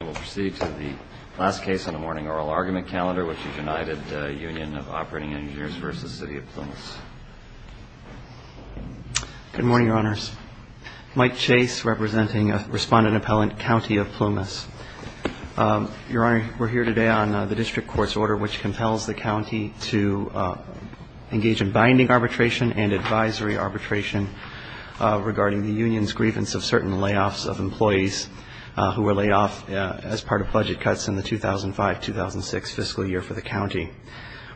We'll proceed to the last case on the morning oral argument calendar, which is United Union of Op Eng v. City of Plumas Good morning, Your Honors. Mike Chase, representing Respondent Appellant, County of Plumas. Your Honor, we're here today on the district court's order which compels the county to engage in binding arbitration and advisory arbitration regarding the union's grievance of certain layoffs of employees who were laid off as part of budget cuts in the 2005-2006 fiscal year for the county.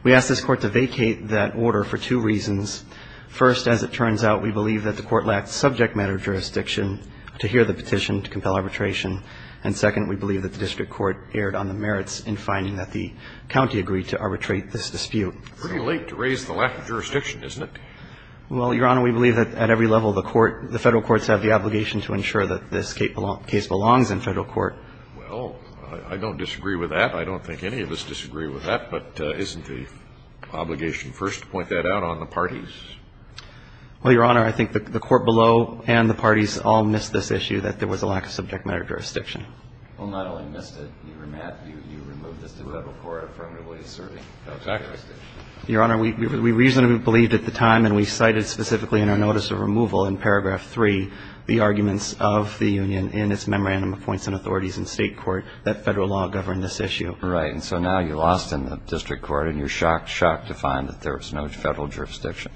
We asked this court to vacate that order for two reasons. First, as it turns out, we believe that the court lacked subject matter jurisdiction to hear the petition to compel arbitration. And second, we believe that the district court erred on the merits in finding that the county agreed to arbitrate this dispute. It's pretty late to raise the lack of jurisdiction, isn't it? Well, Your Honor, we believe that at every level of the court, the federal courts have the obligation to ensure that this case belongs in federal court. Well, I don't disagree with that. I don't think any of us disagree with that. But isn't the obligation first to point that out on the parties? Well, Your Honor, I think the court below and the parties all missed this issue that there was a lack of subject matter jurisdiction. Well, not only missed it. You remapped. You removed this to the federal court affirmatively asserting. Exactly. Your Honor, we reasonably believed at the time, and we cited specifically in our notice of removal in paragraph 3, the arguments of the union in its memorandum of points and authorities in State court that federal law governed this issue. Right. And so now you lost in the district court and you're shocked, shocked to find that there was no federal jurisdiction.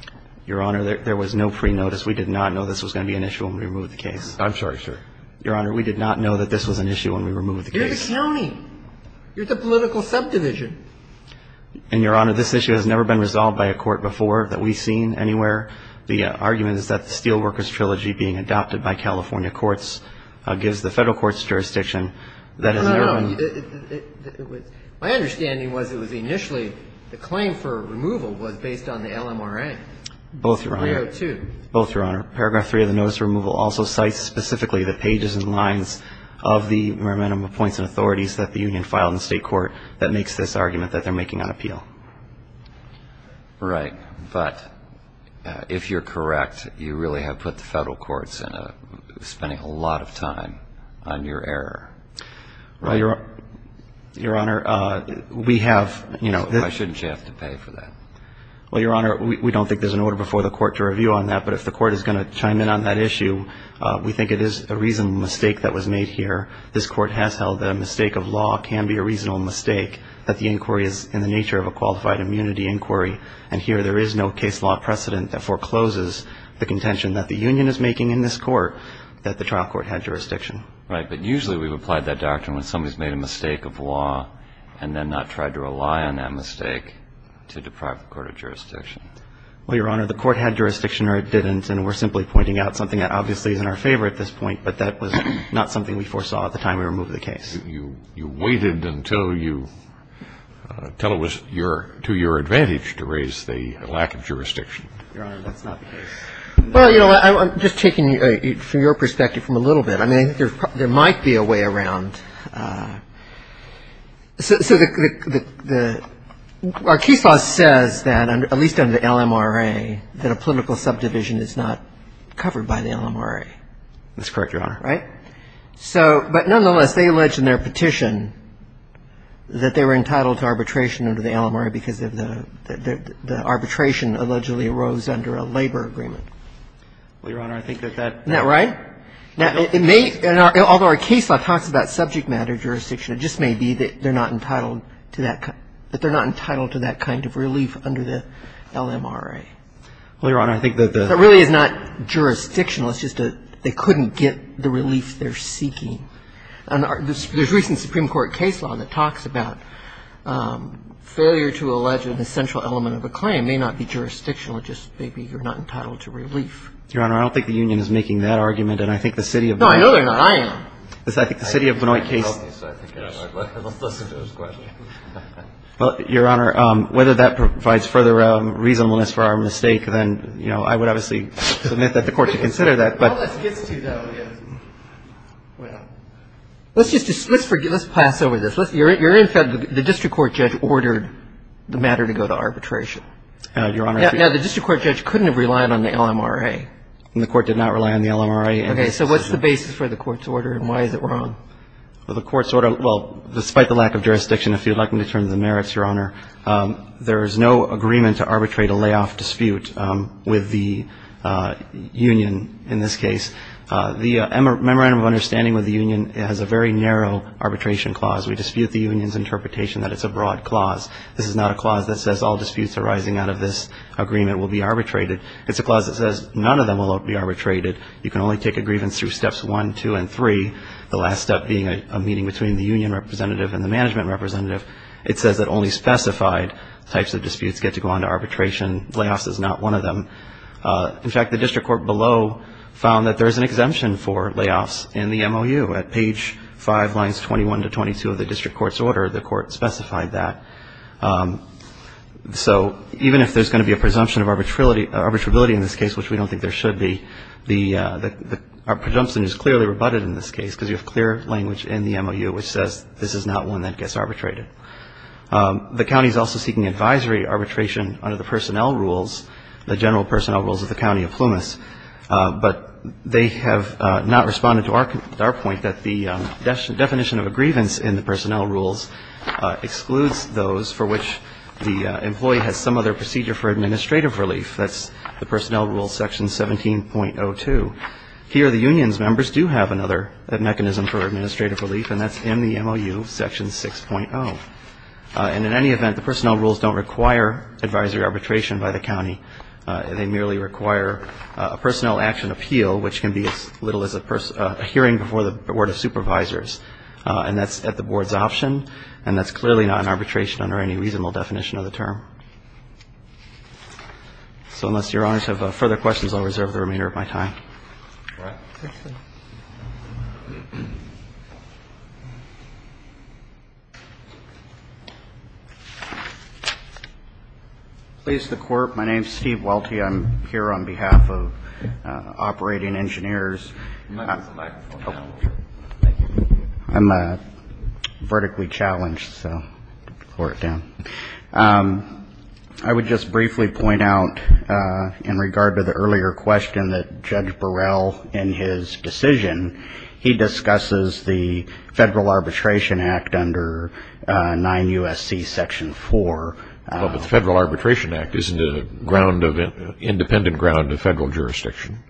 Your Honor, there was no pre-notice. We did not know this was going to be an issue when we removed the case. I'm sorry, sir. Your Honor, we did not know that this was an issue when we removed the case. You're the county. You're the political subdivision. And, Your Honor, this issue has never been resolved by a court before that we've seen anywhere. The argument is that the Steelworkers Trilogy being adopted by California courts gives the federal courts jurisdiction. No, no, no. My understanding was it was initially the claim for removal was based on the LMRA. Both, Your Honor. 302. Both, Your Honor. Paragraph 3 of the notice of removal also cites specifically the pages and lines of the memorandum of points and authorities that the union filed in the state court that makes this argument that they're making on appeal. Right. But if you're correct, you really have put the federal courts spending a lot of time on your error. Well, Your Honor, we have. Why shouldn't you have to pay for that? Well, Your Honor, we don't think there's an order before the court to review on that. But if the court is going to chime in on that issue, we think it is a reasonable mistake that was made here. This court has held that a mistake of law can be a reasonable mistake, that the inquiry is in the nature of a qualified immunity inquiry. And here there is no case law precedent that forecloses the contention that the union is making in this court that the trial court had jurisdiction. Right. But usually we've applied that doctrine when somebody's made a mistake of law and then not tried to rely on that mistake to deprive the court of jurisdiction. Well, Your Honor, the court had jurisdiction or it didn't. And we're simply pointing out something that obviously is in our favor at this point, but that was not something we foresaw at the time we removed the case. You waited until it was to your advantage to raise the lack of jurisdiction. Your Honor, that's not the case. Well, you know, I'm just taking from your perspective from a little bit. I mean, there might be a way around. So our case law says that, at least under the LMRA, that a political subdivision is not covered by the LMRA. That's correct, Your Honor. Right? So but nonetheless, they allege in their petition that they were entitled to arbitration under the LMRA because the arbitration allegedly arose under a labor agreement. Well, Your Honor, I think that that's the case. Right? Now, although our case law talks about subject matter jurisdiction, it just may be that they're not entitled to that kind of relief under the LMRA. Well, Your Honor, I think that the — That really is not jurisdictional. It's just they couldn't get the relief they're seeking. And there's recent Supreme Court case law that talks about failure to allege an essential element of a claim may not be jurisdictional. It just may be you're not entitled to relief. Your Honor, I don't think the union is making that argument. And I think the City of — No, I know they're not. I am. I think the City of Benoit case — Yes. Let's listen to his question. Well, Your Honor, whether that provides further reasonableness for our mistake, then, you know, I would obviously submit that the Court should consider that. All this gets to, though, yes. Well, let's just — let's pass over this. You're in fact — the district court judge ordered the matter to go to arbitration. Your Honor — All right. Now, the district court judge couldn't have relied on the LMRA. The court did not rely on the LMRA. Okay. So what's the basis for the court's order, and why is it wrong? Well, the court's order — well, despite the lack of jurisdiction, if you'd like me to turn to the merits, Your Honor, there is no agreement to arbitrate a layoff dispute with the union in this case. The Memorandum of Understanding with the union has a very narrow arbitration clause. We dispute the union's interpretation that it's a broad clause. This is not a clause that says all disputes arising out of this agreement will be arbitrated. It's a clause that says none of them will be arbitrated. You can only take a grievance through steps one, two, and three, the last step being a meeting between the union representative and the management representative. It says that only specified types of disputes get to go on to arbitration. Layoffs is not one of them. In fact, the district court below found that there is an exemption for layoffs in the MOU. At page 5, lines 21 to 22 of the district court's order, the court specified that. So even if there's going to be a presumption of arbitrability in this case, which we don't think there should be, the presumption is clearly rebutted in this case because you have clear language in the MOU which says this is not one that gets arbitrated. The county is also seeking advisory arbitration under the personnel rules, the general personnel rules of the county of Plumas. But they have not responded to our point that the definition of a grievance in the personnel rules excludes those for which the employee has some other procedure for administrative relief. That's the personnel rule section 17.02. Here, the union's members do have another mechanism for administrative relief, and that's in the MOU section 6.0. And in any event, the personnel rules don't require advisory arbitration by the county. They merely require a personnel action appeal, which can be as little as a hearing before the Board of Supervisors. And that's at the Board's option, and that's clearly not an arbitration under any reasonable definition of the term. So unless Your Honors have further questions, I'll reserve the remainder of my time. Thank you. Please, the Court. My name is Steve Welty. I'm here on behalf of Operating Engineers. I'm vertically challenged, so I'll lower it down. I would just briefly point out in regard to the earlier question that Judge Burrell, in his decision, he discusses the Federal Arbitration Act under 9 U.S.C. Section 4. Well, but the Federal Arbitration Act isn't an independent ground of federal jurisdiction.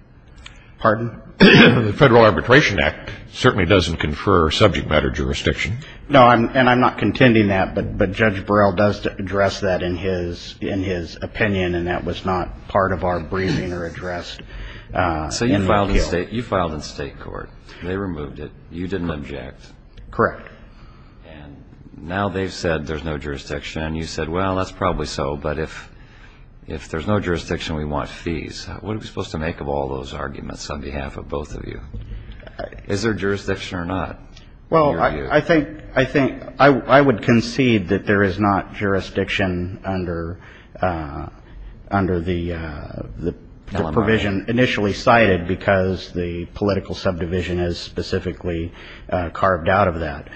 Pardon? The Federal Arbitration Act certainly doesn't confer subject matter jurisdiction. No, and I'm not contending that, but Judge Burrell does address that in his opinion, and that was not part of our briefing or addressed in the appeal. So you filed in state court. They removed it. You didn't object. Correct. And now they've said there's no jurisdiction. You said, well, that's probably so, but if there's no jurisdiction, we want fees. What are we supposed to make of all those arguments on behalf of both of you? Is there jurisdiction or not, in your view? Well, I think I would concede that there is not jurisdiction under the provision initially cited because the political subdivision is specifically carved out of that.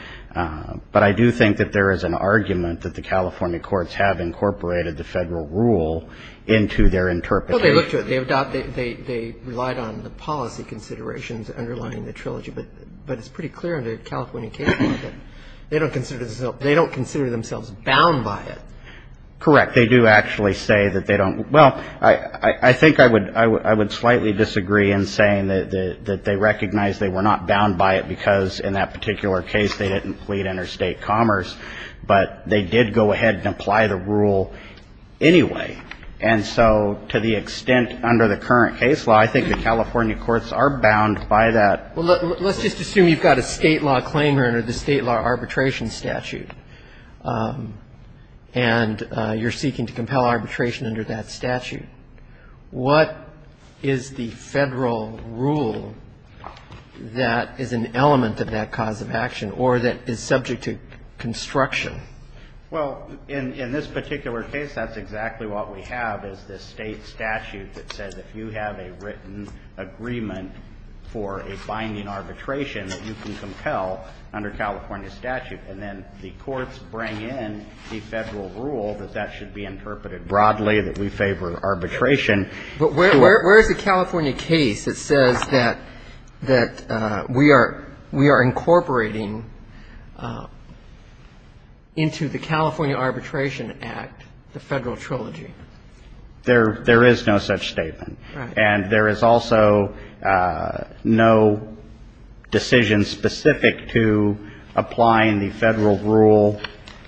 But I do think that there is an argument that the California courts have incorporated the federal rule into their interpretation. Well, they looked at it. They relied on the policy considerations underlying the trilogy, but it's pretty clear under the California case law that they don't consider themselves bound by it. Correct. They do actually say that they don't. Well, I think I would slightly disagree in saying that they recognize they were not bound by it because in that particular case they didn't plead interstate commerce, but they did go ahead and apply the rule anyway. And so to the extent under the current case law, I think the California courts are bound by that. Well, let's just assume you've got a State law claimant under the State law arbitration statute and you're seeking to compel arbitration under that statute. What is the Federal rule that is an element of that cause of action or that is subject to construction? Well, in this particular case, that's exactly what we have is this State statute that says if you have a written agreement for a binding arbitration that you can compel under California statute, and then the courts bring in the Federal rule that that should be interpreted broadly, that we favor arbitration. But where is the California case that says that we are incorporating into the California Arbitration Act the Federal trilogy? There is no such statement. Right. And there is also no decision specific to applying the Federal rule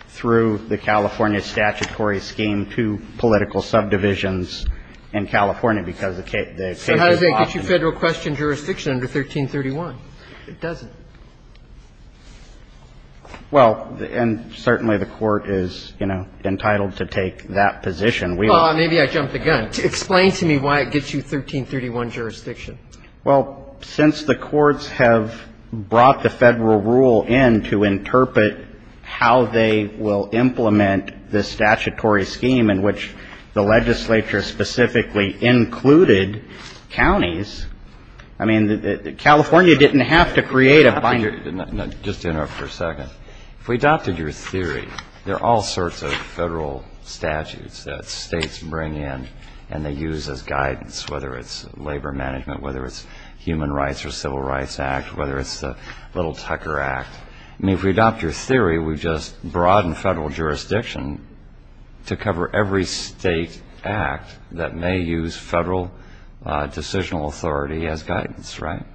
through the California statutory scheme to political subdivisions in California because the case is not in it. So how does that get you Federal question jurisdiction under 1331? It doesn't. Well, and certainly the Court is, you know, entitled to take that position. Well, maybe I jumped the gun. Explain to me why it gets you 1331 jurisdiction. Well, since the courts have brought the Federal rule in to interpret how they will implement the statutory scheme in which the legislature specifically included counties, I mean, California didn't have to create a binding rule. Just interrupt for a second. If we adopted your theory, there are all sorts of Federal statutes that States bring in and they use as guidance, whether it's labor management, whether it's Human Rights or Civil Rights Act, whether it's the Little Tucker Act. I mean, if we adopt your theory, we've just broadened Federal jurisdiction to cover every state act that may use Federal decisional authority as guidance, right?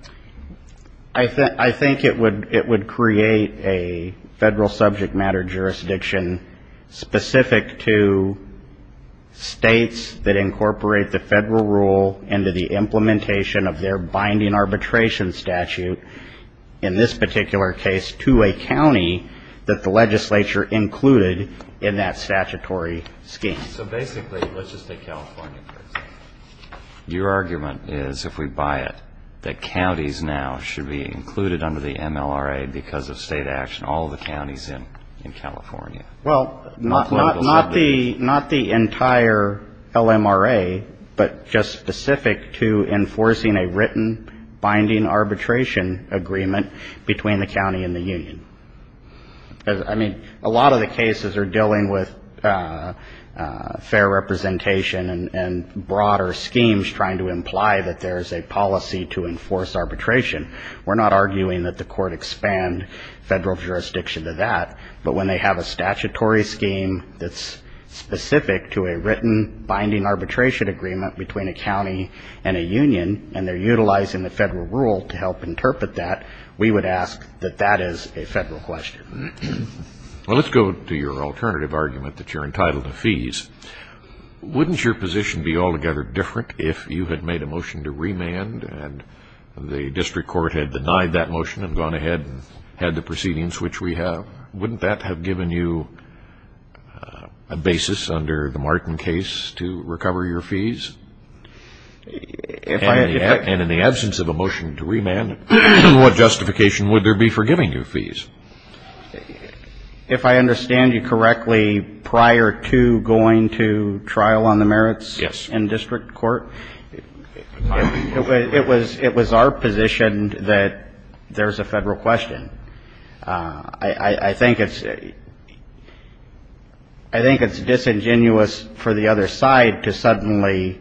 I think it would create a Federal subject matter jurisdiction specific to States that incorporate the Federal rule into the implementation of their binding arbitration statute, in this particular case, to a county that the legislature included in that statutory scheme. So basically, let's just take California for example. Your argument is, if we buy it, that counties now should be included under the MLRA because of State action, all the counties in California. Well, not the entire LMRA, but just specific to enforcing a written binding arbitration agreement between the county and a union. I mean, a lot of the cases are dealing with fair representation and broader schemes trying to imply that there's a policy to enforce arbitration. We're not arguing that the court expand Federal jurisdiction to that, but when they have a statutory scheme that's specific to a written binding arbitration agreement between a county and a union, and they're utilizing the Federal rule to help Well, let's go to your alternative argument that you're entitled to fees. Wouldn't your position be altogether different if you had made a motion to remand and the district court had denied that motion and gone ahead and had the proceedings which we have? Wouldn't that have given you a basis under the Martin case to recover your fees? And in the absence of a motion to remand, what justification would there be for giving you fees? If I understand you correctly, prior to going to trial on the merits in district court, it was our position that there's a Federal question. I think it's disingenuous for the other side to suddenly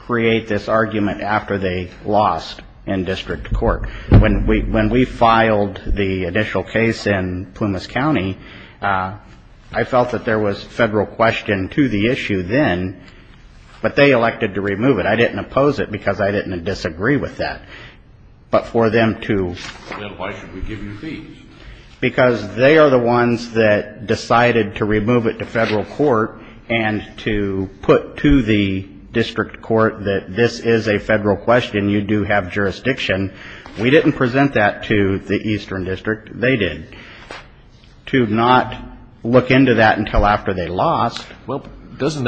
create this argument after they lost in district court. When we filed the initial case in Plumas County, I felt that there was a Federal question to the issue then, but they elected to remove it. I didn't oppose it because I didn't disagree with that, but for them to Then why should we give you fees? Because they are the ones that decided to remove it to Federal court and to put to the district court that this is a Federal question. You do have jurisdiction. We didn't present that to the eastern district. They did. To not look into that until after they lost. Well, I think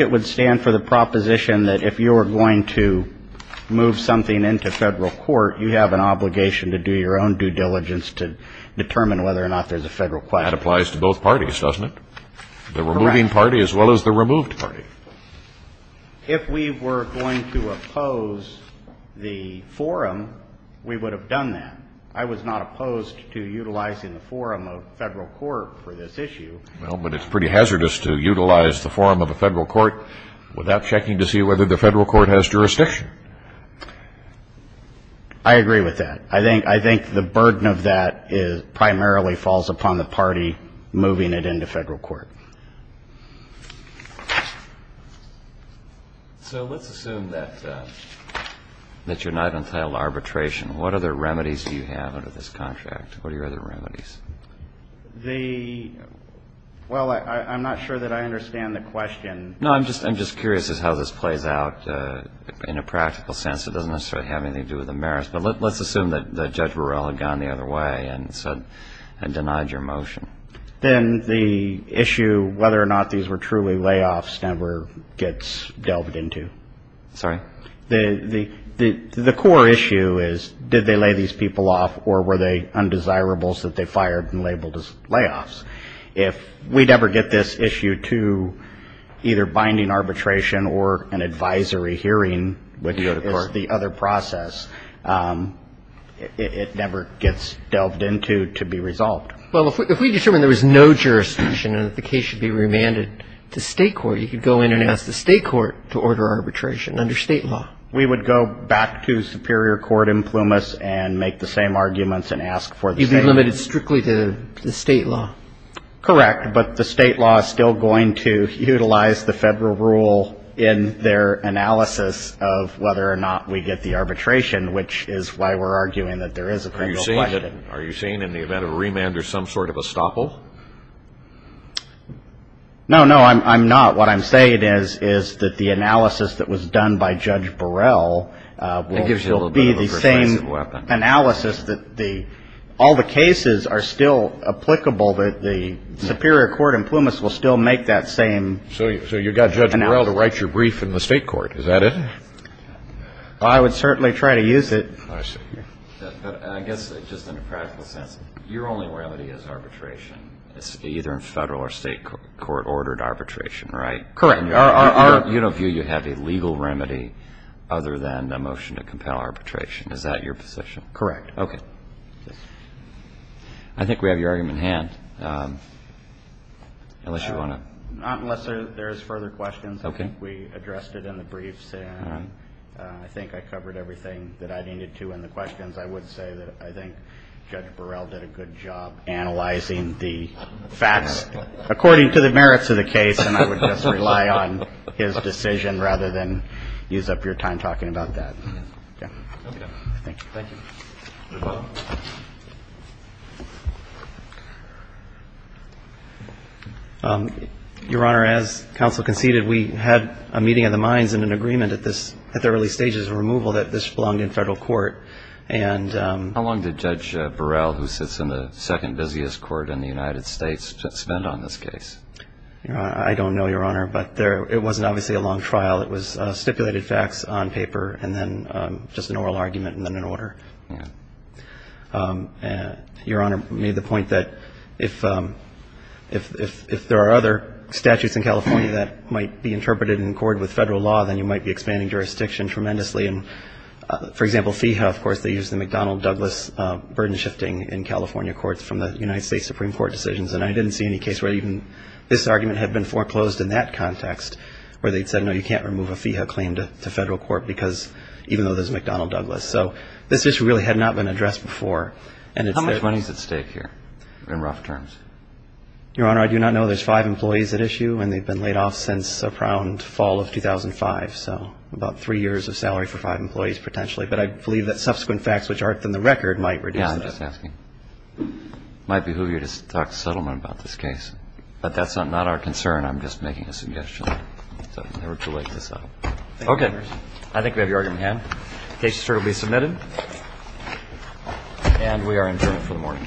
it would stand for the proposition that if you were going to move something into Federal court, you have an obligation to do your own due diligence to determine whether or not there's a Federal question. That applies to both parties, doesn't it? The removing party as well as the removed party. If we were going to oppose the forum, we would have done that. I was not opposed to utilizing the forum of Federal court for this issue. Well, but it's pretty hazardous to utilize the forum of a Federal court without checking to see whether the Federal court has jurisdiction. I agree with that. I think the burden of that primarily falls upon the party moving it into Federal court. So let's assume that you're not entitled to arbitration. What other remedies do you have under this contract? Well, I'm not sure that I understand the question. No, I'm just curious as to how this plays out in a practical sense. It doesn't necessarily have anything to do with the merits, but let's assume that Judge Burrell had gone the other way and denied your motion. Then the issue whether or not these were truly layoffs never gets delved into. Sorry? The core issue is did they lay these people off or were they undesirables that they fired and labeled as layoffs? If we'd ever get this issue to either binding arbitration or an advisory hearing, which is the other process, it never gets delved into to be resolved. Well, if we determined there was no jurisdiction and that the case should be remanded to State court, you could go in and ask the State court to order arbitration under State law. We would go back to Superior Court in Plumas and make the same arguments and ask for the same. You'd be limited strictly to the State law. Correct, but the State law is still going to utilize the Federal rule in their analysis of whether or not we get the arbitration, which is why we're arguing that there is a criminal question. Are you saying in the event of a remand there's some sort of estoppel? No, no, I'm not. What I'm saying is that the analysis that was done by Judge Burrell will still be the same analysis that all the cases are still applicable, that the Superior Court in Plumas will still make that same analysis. So you've got Judge Burrell to write your brief in the State court, is that it? Well, I would certainly try to use it. I see. But I guess just in a practical sense, your only remedy is arbitration, either in Federal or State court-ordered arbitration, right? Correct. You don't view you have a legal remedy other than a motion to compel arbitration, is that your position? Correct. Okay. I think we have your argument in hand. Unless you want to... Not unless there's further questions. Okay. I think we addressed it in the briefs, and I think I covered everything that I needed to in the questions. I would say that I think Judge Burrell did a good job analyzing the facts according to the merits of the case, and I would just rely on his decision rather than use up your time talking about that. Okay. Thank you. Your Honor, as counsel conceded, we had a meeting of the minds and an agreement at the early stages of removal that this belonged in Federal court. And... How long did Judge Burrell, who sits in the second busiest court in the United States, spend on this case? I don't know, Your Honor. But it wasn't obviously a long trial. It was stipulated facts on paper, and then just an oral argument, and then an order. Okay. Your Honor made the point that if there are other statutes in California that might be interpreted in accord with Federal law, then you might be expanding jurisdiction tremendously. And, for example, FEHA, of course, they use the McDonnell-Douglas burden-shifting in California courts from the United States Supreme Court decisions. And I didn't see any case where even this argument had been foreclosed in that context, where they'd said, no, you can't remove it. You can't remove a FEHA claim to Federal court because, even though there's McDonnell-Douglas. So this issue really had not been addressed before. How much money is at stake here, in rough terms? Your Honor, I do not know. There's five employees at issue, and they've been laid off since around fall of 2005. So about three years of salary for five employees, potentially. But I believe that subsequent facts, which aren't in the record, might reduce that. I'm just asking. It might behoove you to talk to settlement about this case. But that's not our concern. I'm just making a suggestion. So it's never too late to settle. Okay. I think we have your argument in hand. The case is certainly submitted. And we are adjourned for the morning. Thank you.